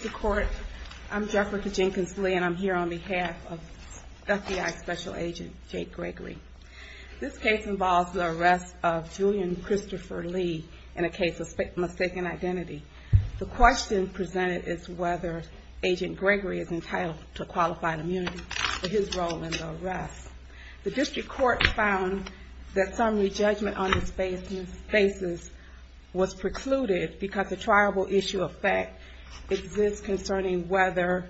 I'm here on behalf of FBI Special Agent Jake Gregory. This case involves the arrest of Julian Christopher Lee in a case of mistaken identity. The question presented is whether Agent Gregory is entitled to qualified immunity for his role in the arrest. The district court found that some re-judgment on this basis was precluded because the triable issue of this case concerning whether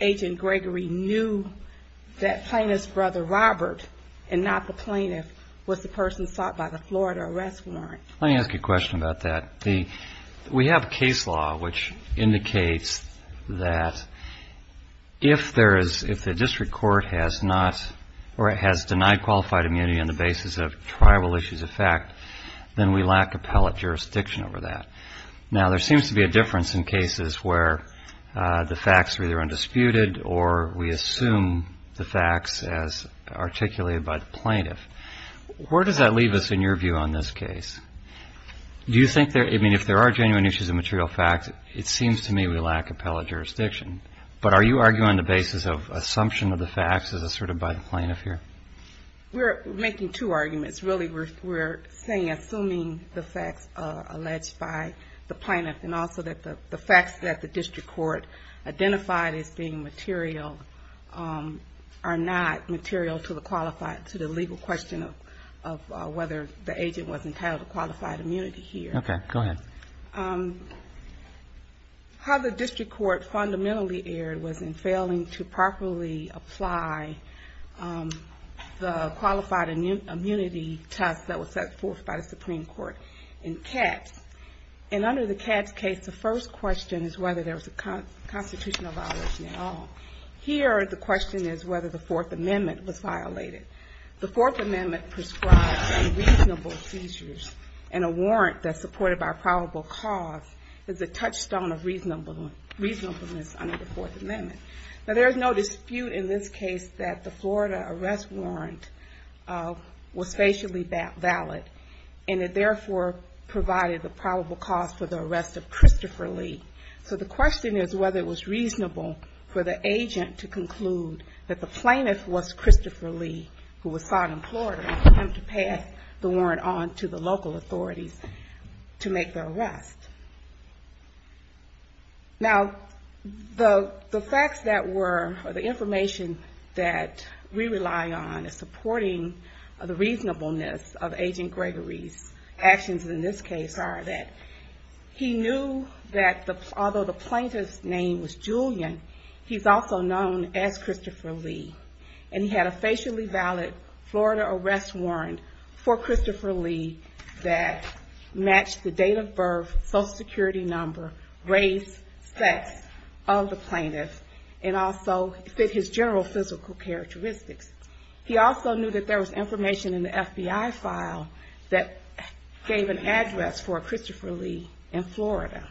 Agent Gregory knew that plaintiff's brother, Robert, and not the plaintiff, was the person sought by the Florida arrest warrant. Let me ask you a question about that. We have a case law which indicates that if the district court has denied qualified immunity on the basis of triable issues of fact, then we lack appellate jurisdiction over that. Now, there seems to be a difference in cases where the facts are either undisputed or we assume the facts as articulated by the plaintiff. Where does that leave us in your view on this case? Do you think there, I mean, if there are genuine issues of material fact, it seems to me we lack appellate jurisdiction. But are you arguing the basis of assumption of the facts as asserted by the plaintiff here? We're making two arguments. Really, we're saying, assuming the facts are alleged by the plaintiff and also that the facts that the district court identified as being material are not material to the legal question of whether the agent was entitled to qualified immunity here. Okay. Go ahead. How the district court fundamentally erred was in failing to properly apply the qualified immunity test that was set forth by the Supreme Court in Katz. And under the Katz case, the first question is whether there was a constitutional violation at all. Here, the question is whether the Fourth Amendment was violated. The Fourth Amendment prescribes unreasonable seizures and a warrant that's supported by probable cause is a touchstone of reasonableness under the Fourth Amendment. Now, there's no dispute in this case that the Florida arrest warrant was facially valid and it therefore provided the probable cause for the arrest of Christopher Lee. So the question is whether it was reasonable for the agent to conclude that the plaintiff was Christopher Lee who was found in Florida and for him to pass the warrant on to the local authorities to make the arrest. Now, the facts that were, or the information that we rely on in supporting the reasonableness of Agent Gregory's actions in this case are that he knew that although the plaintiff's name was Julian, he's also known as Christopher Lee. And he had a facially valid Florida arrest warrant for Christopher Lee that matched the date of birth, Social Security number, race, sex of the plaintiff, and also fit his general physical characteristics. He also knew that there was information in the FBI file that gave an address for Christopher Lee in Florida.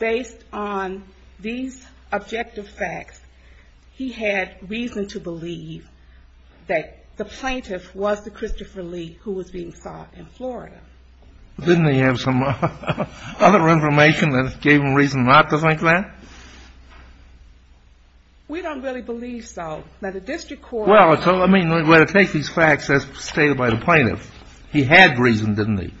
Based on these objective facts, he had reason to believe that the plaintiff was the Christopher Lee who was being sought in Florida. Didn't he have some other information that gave him reason not to think that? We don't really believe so. Now, the district court... Well, so let me, we're going to take these facts as stated by the plaintiff. He had reason, didn't he?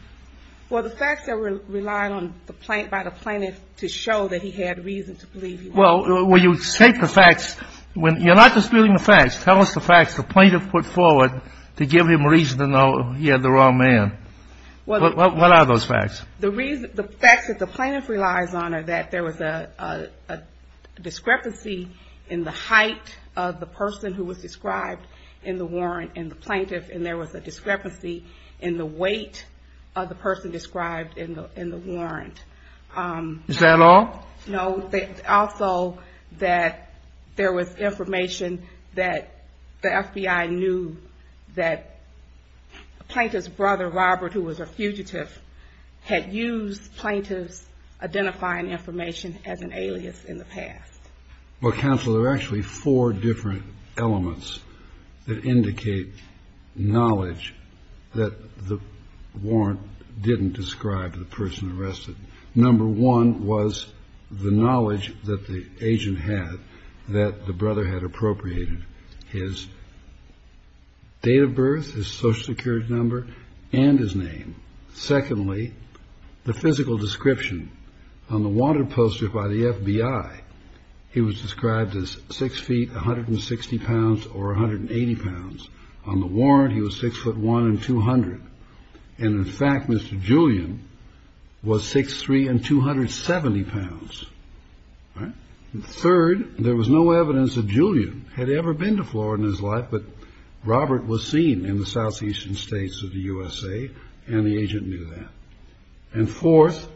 Well, the facts that were relied on by the plaintiff to show that he had reason to believe he was. Well, when you take the facts, you're not disputing the facts. Tell us the facts the plaintiff put forward to give him reason to know he had the wrong man. What are those facts? The reason, the facts that the plaintiff relies on are that there was a discrepancy in the height of the person who was described in the warrant and the plaintiff, and there was a discrepancy in the weight of the person described in the warrant. Is that all? No. Also, that there was information that the FBI knew that a plaintiff's brother, Robert, who was a fugitive, had used plaintiff's identifying information as an alias in the past. Well, counsel, there are actually four different elements that indicate knowledge that the warrant didn't describe the person arrested. Number one was the knowledge that the agent had that the brother had appropriated his date of birth, his social security number, and his name. Secondly, the physical description on the wanted poster by the FBI. He was described as six feet, 160 pounds, or 180 pounds. On the warrant, he was six foot one and 200. And, in fact, Mr. Julian was 6'3 and 270 pounds. Third, there was no evidence that Julian had ever been to Florida in his life, but Robert was seen in the southeastern states of the USA, and the agent knew that. And fourth,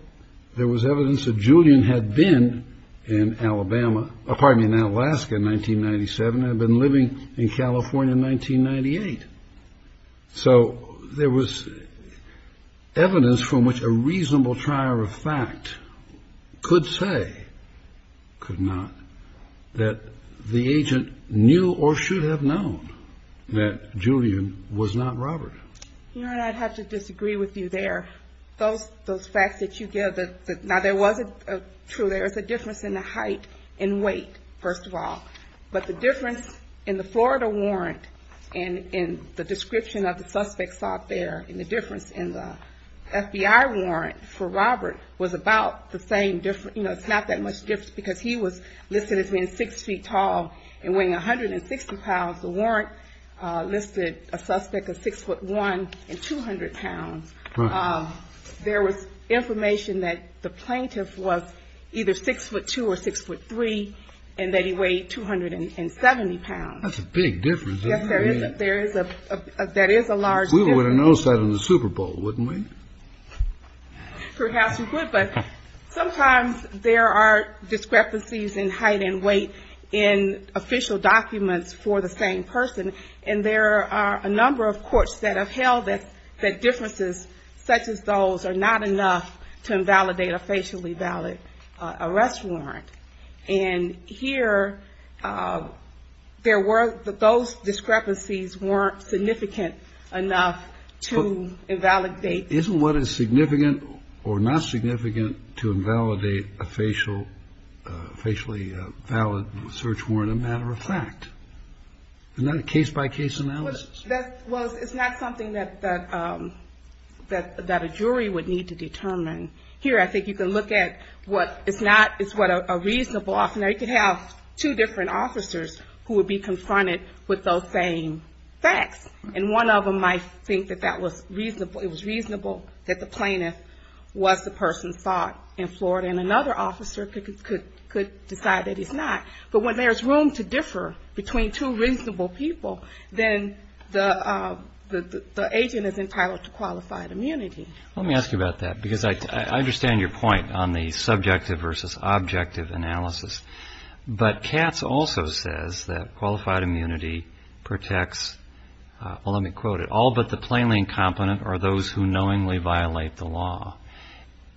there was evidence that Julian had been in Alabama, pardon me, in Alaska in 1997 and had been living in California in 1998. So there was evidence from which a reasonable trier of fact could say, could not, that the agent knew or should have known that Julian was not Robert. You know, and I'd have to disagree with you there. Those facts that you give, now there was a, true, there was a difference in the height and weight, first of all. But the difference in the Florida warrant and in the description of the suspects out there and the difference in the FBI warrant for Robert was about the same, you know, it's not that much different because he was listed as being six feet tall and weighing 160 pounds. The warrant listed a suspect as six foot one and 200 pounds. There was information that the plaintiff was either six foot two or six foot three, and that he weighed 270 pounds. That's a big difference, isn't it? Yes, there is a, that is a large difference. We would have noticed that in the Super Bowl, wouldn't we? Perhaps we would, but sometimes there are discrepancies in height and weight in official documents for the same person, and there are a number of courts that have held that differences such as those are not enough to invalidate a facially valid arrest warrant. And here, there were, those discrepancies weren't significant enough to invalidate. Isn't what is significant or not significant to invalidate a facial, facially valid search warrant a matter of fact? And not a case-by-case analysis. Well, it's not something that a jury would need to determine. Here, I think you can look at what is not, it's what a reasonable offender, you could have two different officers who would be confronted with those same facts, and one of them might think that that was reasonable, it was reasonable that the plaintiff was the person sought in Florida, and another officer could decide that he's not. But when there's room to differ between two reasonable people, then the agent is entitled to qualified immunity. Let me ask you about that, because I understand your point on the subjective versus objective analysis. But Katz also says that qualified immunity protects, well, let me quote it, all but the plainly incompetent or those who knowingly violate the law.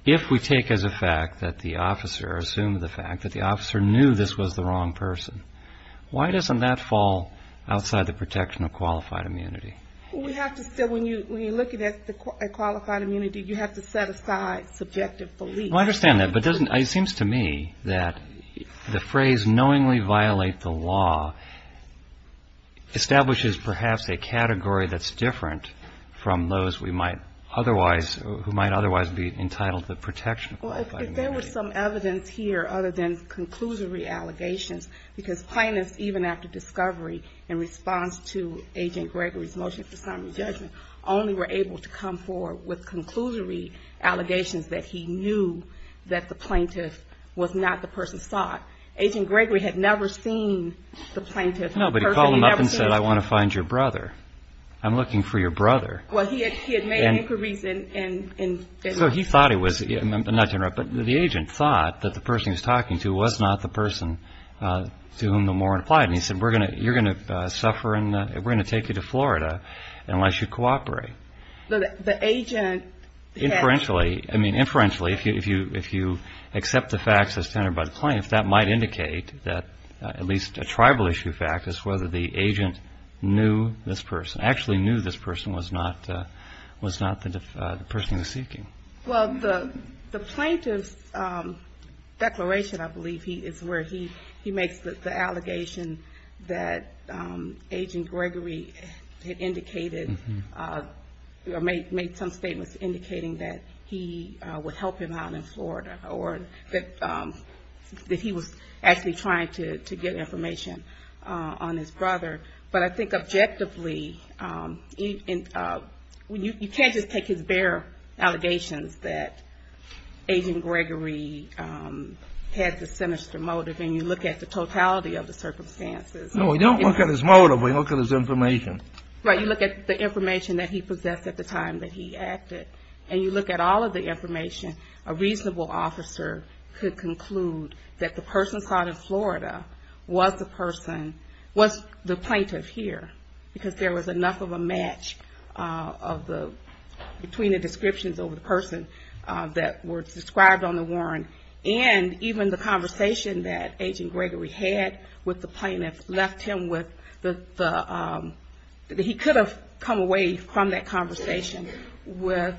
If we take as a matter of fact that the officer assumed the fact that the officer knew this was the wrong person, why doesn't that fall outside the protection of qualified immunity? Well, we have to still, when you're looking at qualified immunity, you have to set aside subjective beliefs. Well, I understand that, but it seems to me that the phrase knowingly violate the law establishes perhaps a category that's different from those who might otherwise be entitled to the protection of qualified immunity. Well, if there was some evidence here other than conclusory allegations, because plaintiffs, even after discovery, in response to Agent Gregory's motion for summary judgment, only were able to come forward with conclusory allegations that he knew that the plaintiff was not the person sought. Agent Gregory had never seen the plaintiff. No, but he called him up and said, I want to find your brother. I'm looking for your brother. Well, he had made inquiries in... He thought he was, not to interrupt, but the agent thought that the person he was talking to was not the person to whom the warrant applied, and he said, you're going to suffer and we're going to take you to Florida unless you cooperate. The agent had... Inferentially, I mean, inferentially, if you accept the facts as tenor by the plaintiff, that might indicate that at least a tribal issue fact is whether the agent knew this person. Well, the plaintiff's declaration, I believe, is where he makes the allegation that Agent Gregory had indicated, made some statements indicating that he would help him out in Florida or that he was actually trying to get information on his brother. But I think objectively, you can't just take his bare allegations that Agent Gregory had the sinister motive and you look at the totality of the circumstances. No, we don't look at his motive, we look at his information. Right, you look at the information that he possessed at the time that he acted, and you look at all of the information, a reasonable officer could conclude that the person sought in Florida was the person, was the plaintiff here, because there was enough of a match between the descriptions of the person that were described on the warrant and even the conversation that Agent Gregory had with the plaintiff left him with the... He could have come away from that conversation with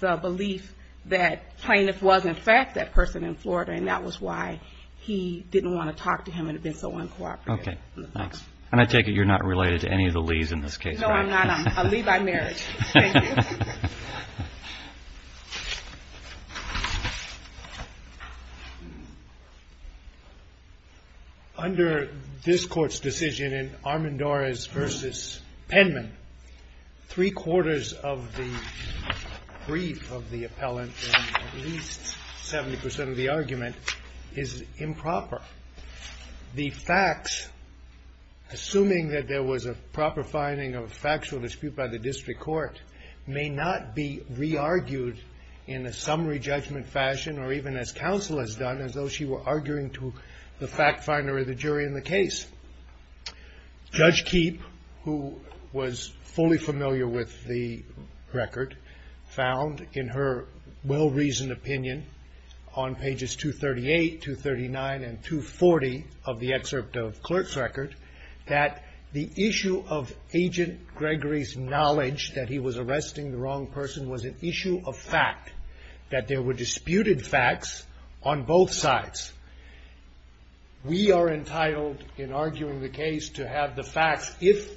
the belief that plaintiff was in fact that person in Florida, and that was why he didn't want to talk to him, it would have been so uncooperative. Okay, thanks. And I take it you're not related to any of the Lees in this case? No, I'm not. I'm a Lee by marriage. Thank you. Under this Court's decision in Armendariz v. Penman, three-quarters of the brief of the appellant and at least 70% of the argument is improper. The facts, assuming that there was a proper finding of factual dispute by the District Court, may not be re-argued in a summary judgment fashion or even as counsel has done, as though she were arguing to the fact finder or the jury in the case. Judge Keepe, who was fully familiar with the court's well-reasoned opinion on pages 238, 239, and 240 of the excerpt of the clerk's record, that the issue of Agent Gregory's knowledge that he was arresting the wrong person was an issue of fact, that there were disputed facts on both sides. We are entitled in arguing the case to have the facts, if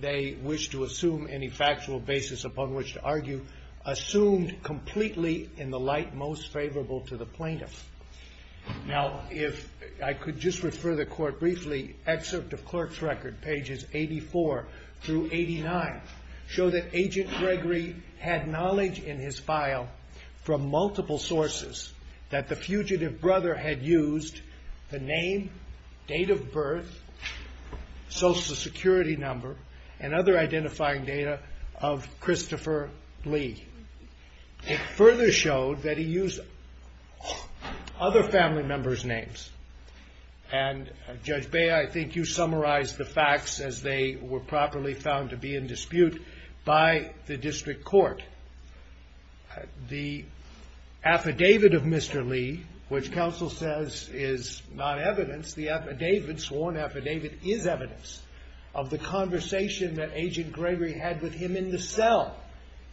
they wish to assume any factual basis upon which to argue, assumed completely in the light most favorable to the plaintiff. Now, if I could just refer the Court briefly, excerpt of clerk's record, pages 84 through 89, show that Agent Gregory had knowledge in his file from multiple sources that the fugitive brother had used the name, date of birth, Social Security number, and other identifying data of Christopher Lee. It further showed that he used other family members' names. And, Judge Bea, I think you summarized the facts as they were properly found to be in dispute by the district court. The affidavit of Mr. Lee, which counsel says is not evidence, the affidavit, sworn affidavit, is evidence of the conversation that Agent Gregory had with him in the cell,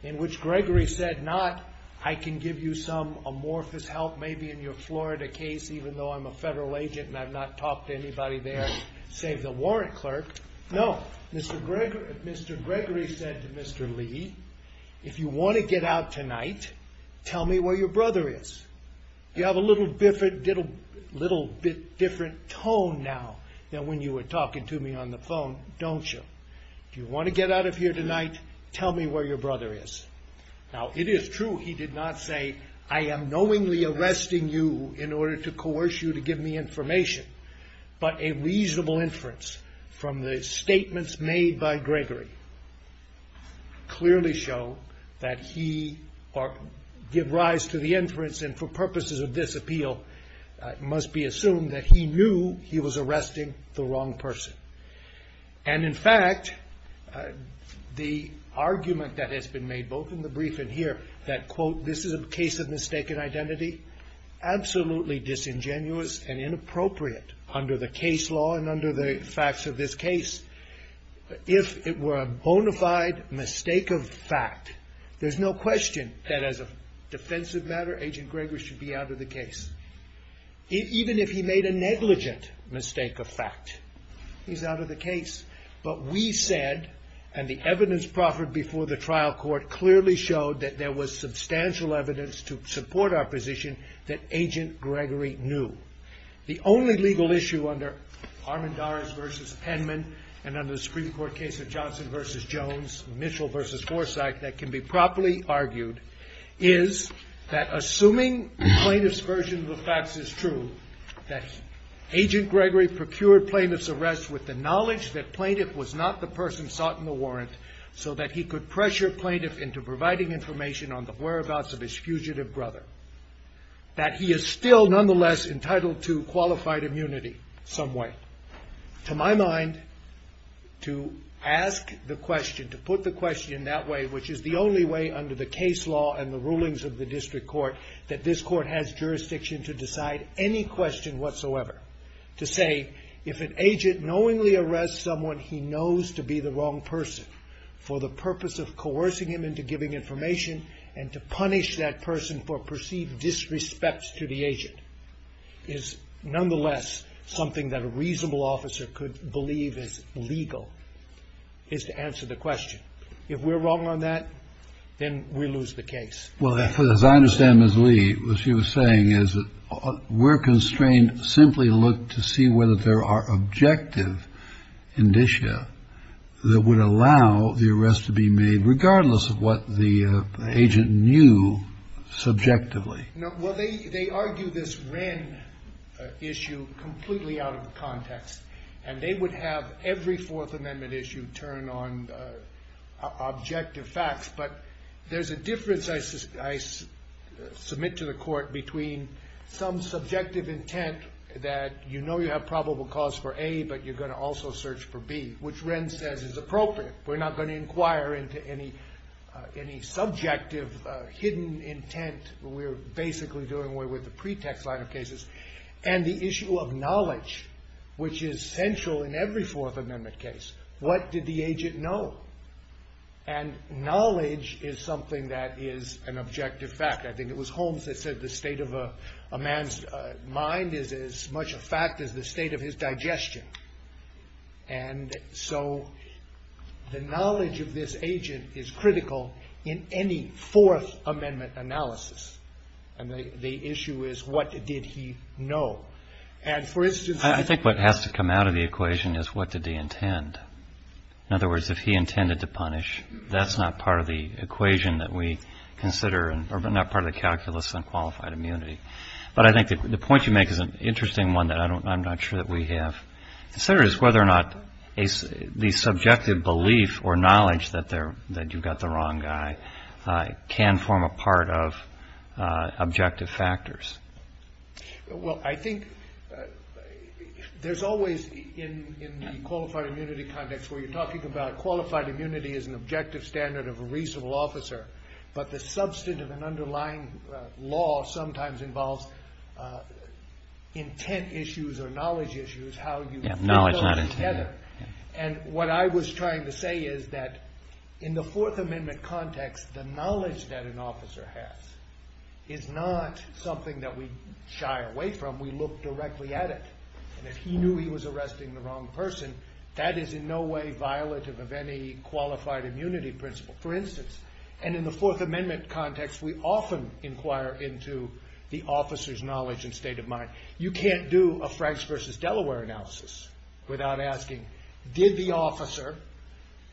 in which Gregory said, not, I can give you some amorphous help, maybe in your Florida case, even though I'm a federal agent and I've not talked to anybody there save the warrant clerk. No, Mr. Gregory said to Mr. Lee, if you want to get out tonight, tell me where your brother is. You have a little bit different tone now than when you were talking to me on the phone, don't you? If you want to get out of here tonight, tell me where your brother is. Now, it is true he did not say, I am knowingly arresting you in order to coerce you to give me information, but a reasonable inference from the statements made by Gregory clearly show that he, or give rise to the inference and for purposes of this appeal, must be assumed that he knew he was arresting the wrong person. And in fact, the argument that has been made both in the brief and here, that quote, this is a case of mistaken identity, absolutely disingenuous and inappropriate under the case law and under the facts of this case. If it were a bonafide mistake of fact, there's no question that as a defensive matter, Agent Gregory should be out of the case. Even if he made a negligent mistake of fact, he's out of the case. But we said, and the evidence proffered before the trial court clearly showed that there was substantial evidence to support our position that Agent Gregory knew. The only legal issue under Armendaris v. Penman and under the Supreme Court case of Johnson v. Jones, Mitchell v. Forsythe, that can be properly argued, is that assuming the plaintiff's version of the facts is true, that Agent Gregory procured plaintiff's arrest with the knowledge that plaintiff was not the person sought in the warrant, so that he could pressure plaintiff into providing information on the whereabouts of his fugitive brother, that he is still nonetheless entitled to qualified immunity some way. To my mind, to ask the question, to put the question that way, which is the only way under the case law and the rulings of the district court, that this court has jurisdiction to decide any question whatsoever. To say, if an agent knowingly arrests someone he knows to be the wrong person for the purpose of coercing him into giving information and to punish that person for perceived disrespect to the agent, is nonetheless something that a reasonable officer could believe is legal, is to answer the question. If we're wrong on that, then we lose the case. Well, as I understand Ms. Lee, what she was saying is that we're constrained simply to look to see whether there are objective indicia that would allow the arrest to be made, regardless of what the agent knew subjectively. No. Well, they argue this Wren issue completely out of context. And they would have every Fourth Amendment issue turn on objective facts. But there's a difference, I submit to the Court, between some subjective intent that you know you have probable cause for A, but you're going to also search for B, which Wren says is appropriate. We're not going to inquire into any subjective, hidden intent. We're basically doing away with the pretext line of cases. And the issue of knowledge, which is central in every Fourth Amendment case. What did the agent know? And knowledge is something that is an objective fact. I think it was Holmes that said the state of a man's mind is as much a fact as the state of his digestion. And so the knowledge of this agent is critical in any Fourth Amendment analysis. And the issue is what did he know? And for instance... I think what has to come out of the equation is what did he intend? In other words, if he intended to punish, that's not part of the equation that we consider, or not part of the calculus on qualified immunity. But I think the point you make is an interesting one that I'm not sure that we have. It's whether or not the subjective belief or knowledge that you've got the wrong guy can form a part of objective factors. Well, I think there's always, in the qualified immunity context where you're talking about qualified immunity as an objective standard of a reasonable officer, but the substantive and underlying law sometimes involves intent issues or knowledge issues, how you... Yeah, knowledge not intent. And what I was trying to say is that in the Fourth Amendment context, the knowledge that an officer has is not something that we shy away from. We look directly at it. And if he knew he was arresting the wrong person, that is in no way violative of any qualified immunity principle. For instance, and in the Fourth Amendment context, we often inquire into the officer's knowledge and state of mind. You can't do a Franks versus Delaware analysis without asking, did the officer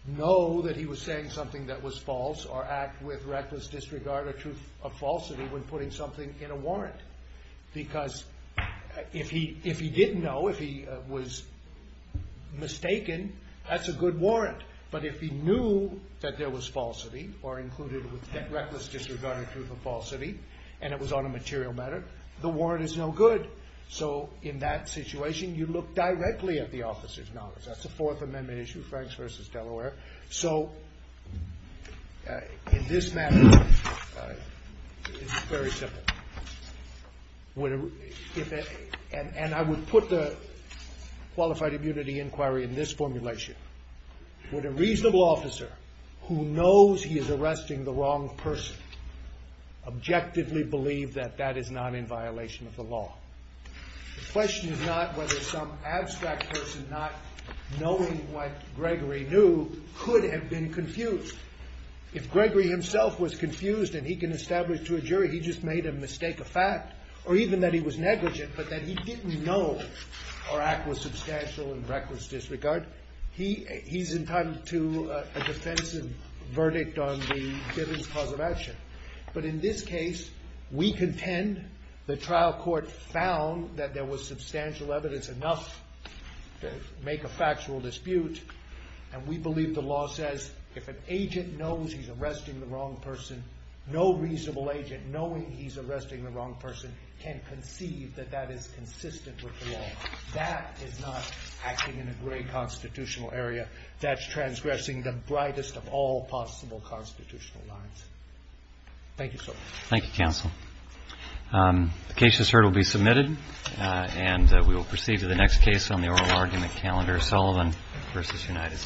know that he was saying something that was false or act with reckless disregard or truth of falsity when putting something in a warrant? Because if he didn't know, if he was mistaken, that's a good warrant. But if he knew that there was falsity or included with reckless disregard or truth of falsity and it was on a material matter, the warrant is no good. So in that situation, you look directly at the officer's knowledge. That's the Fourth Amendment issue, Franks versus Delaware. So in this matter, it's very simple. And I would put the qualified immunity inquiry in this formulation. Would a reasonable officer who knows he is arresting the wrong person objectively believe that that is not in violation of the law? The question is not whether some could have been confused. If Gregory himself was confused and he can establish to a jury he just made a mistake of fact or even that he was negligent but that he didn't know or act with substantial and reckless disregard, he's entitled to a defensive verdict on the given cause of action. But in this case, we contend the trial court found that there was no reasonable agent knowing he's arresting the wrong person can conceive that that is consistent with the law. That is not acting in a gray constitutional area. That's transgressing the brightest of all possible constitutional lines. Thank you, sir. Thank you, counsel. The case, as heard, will be submitted and we will proceed to the next case on the oral argument calendar, Sullivan v. United States.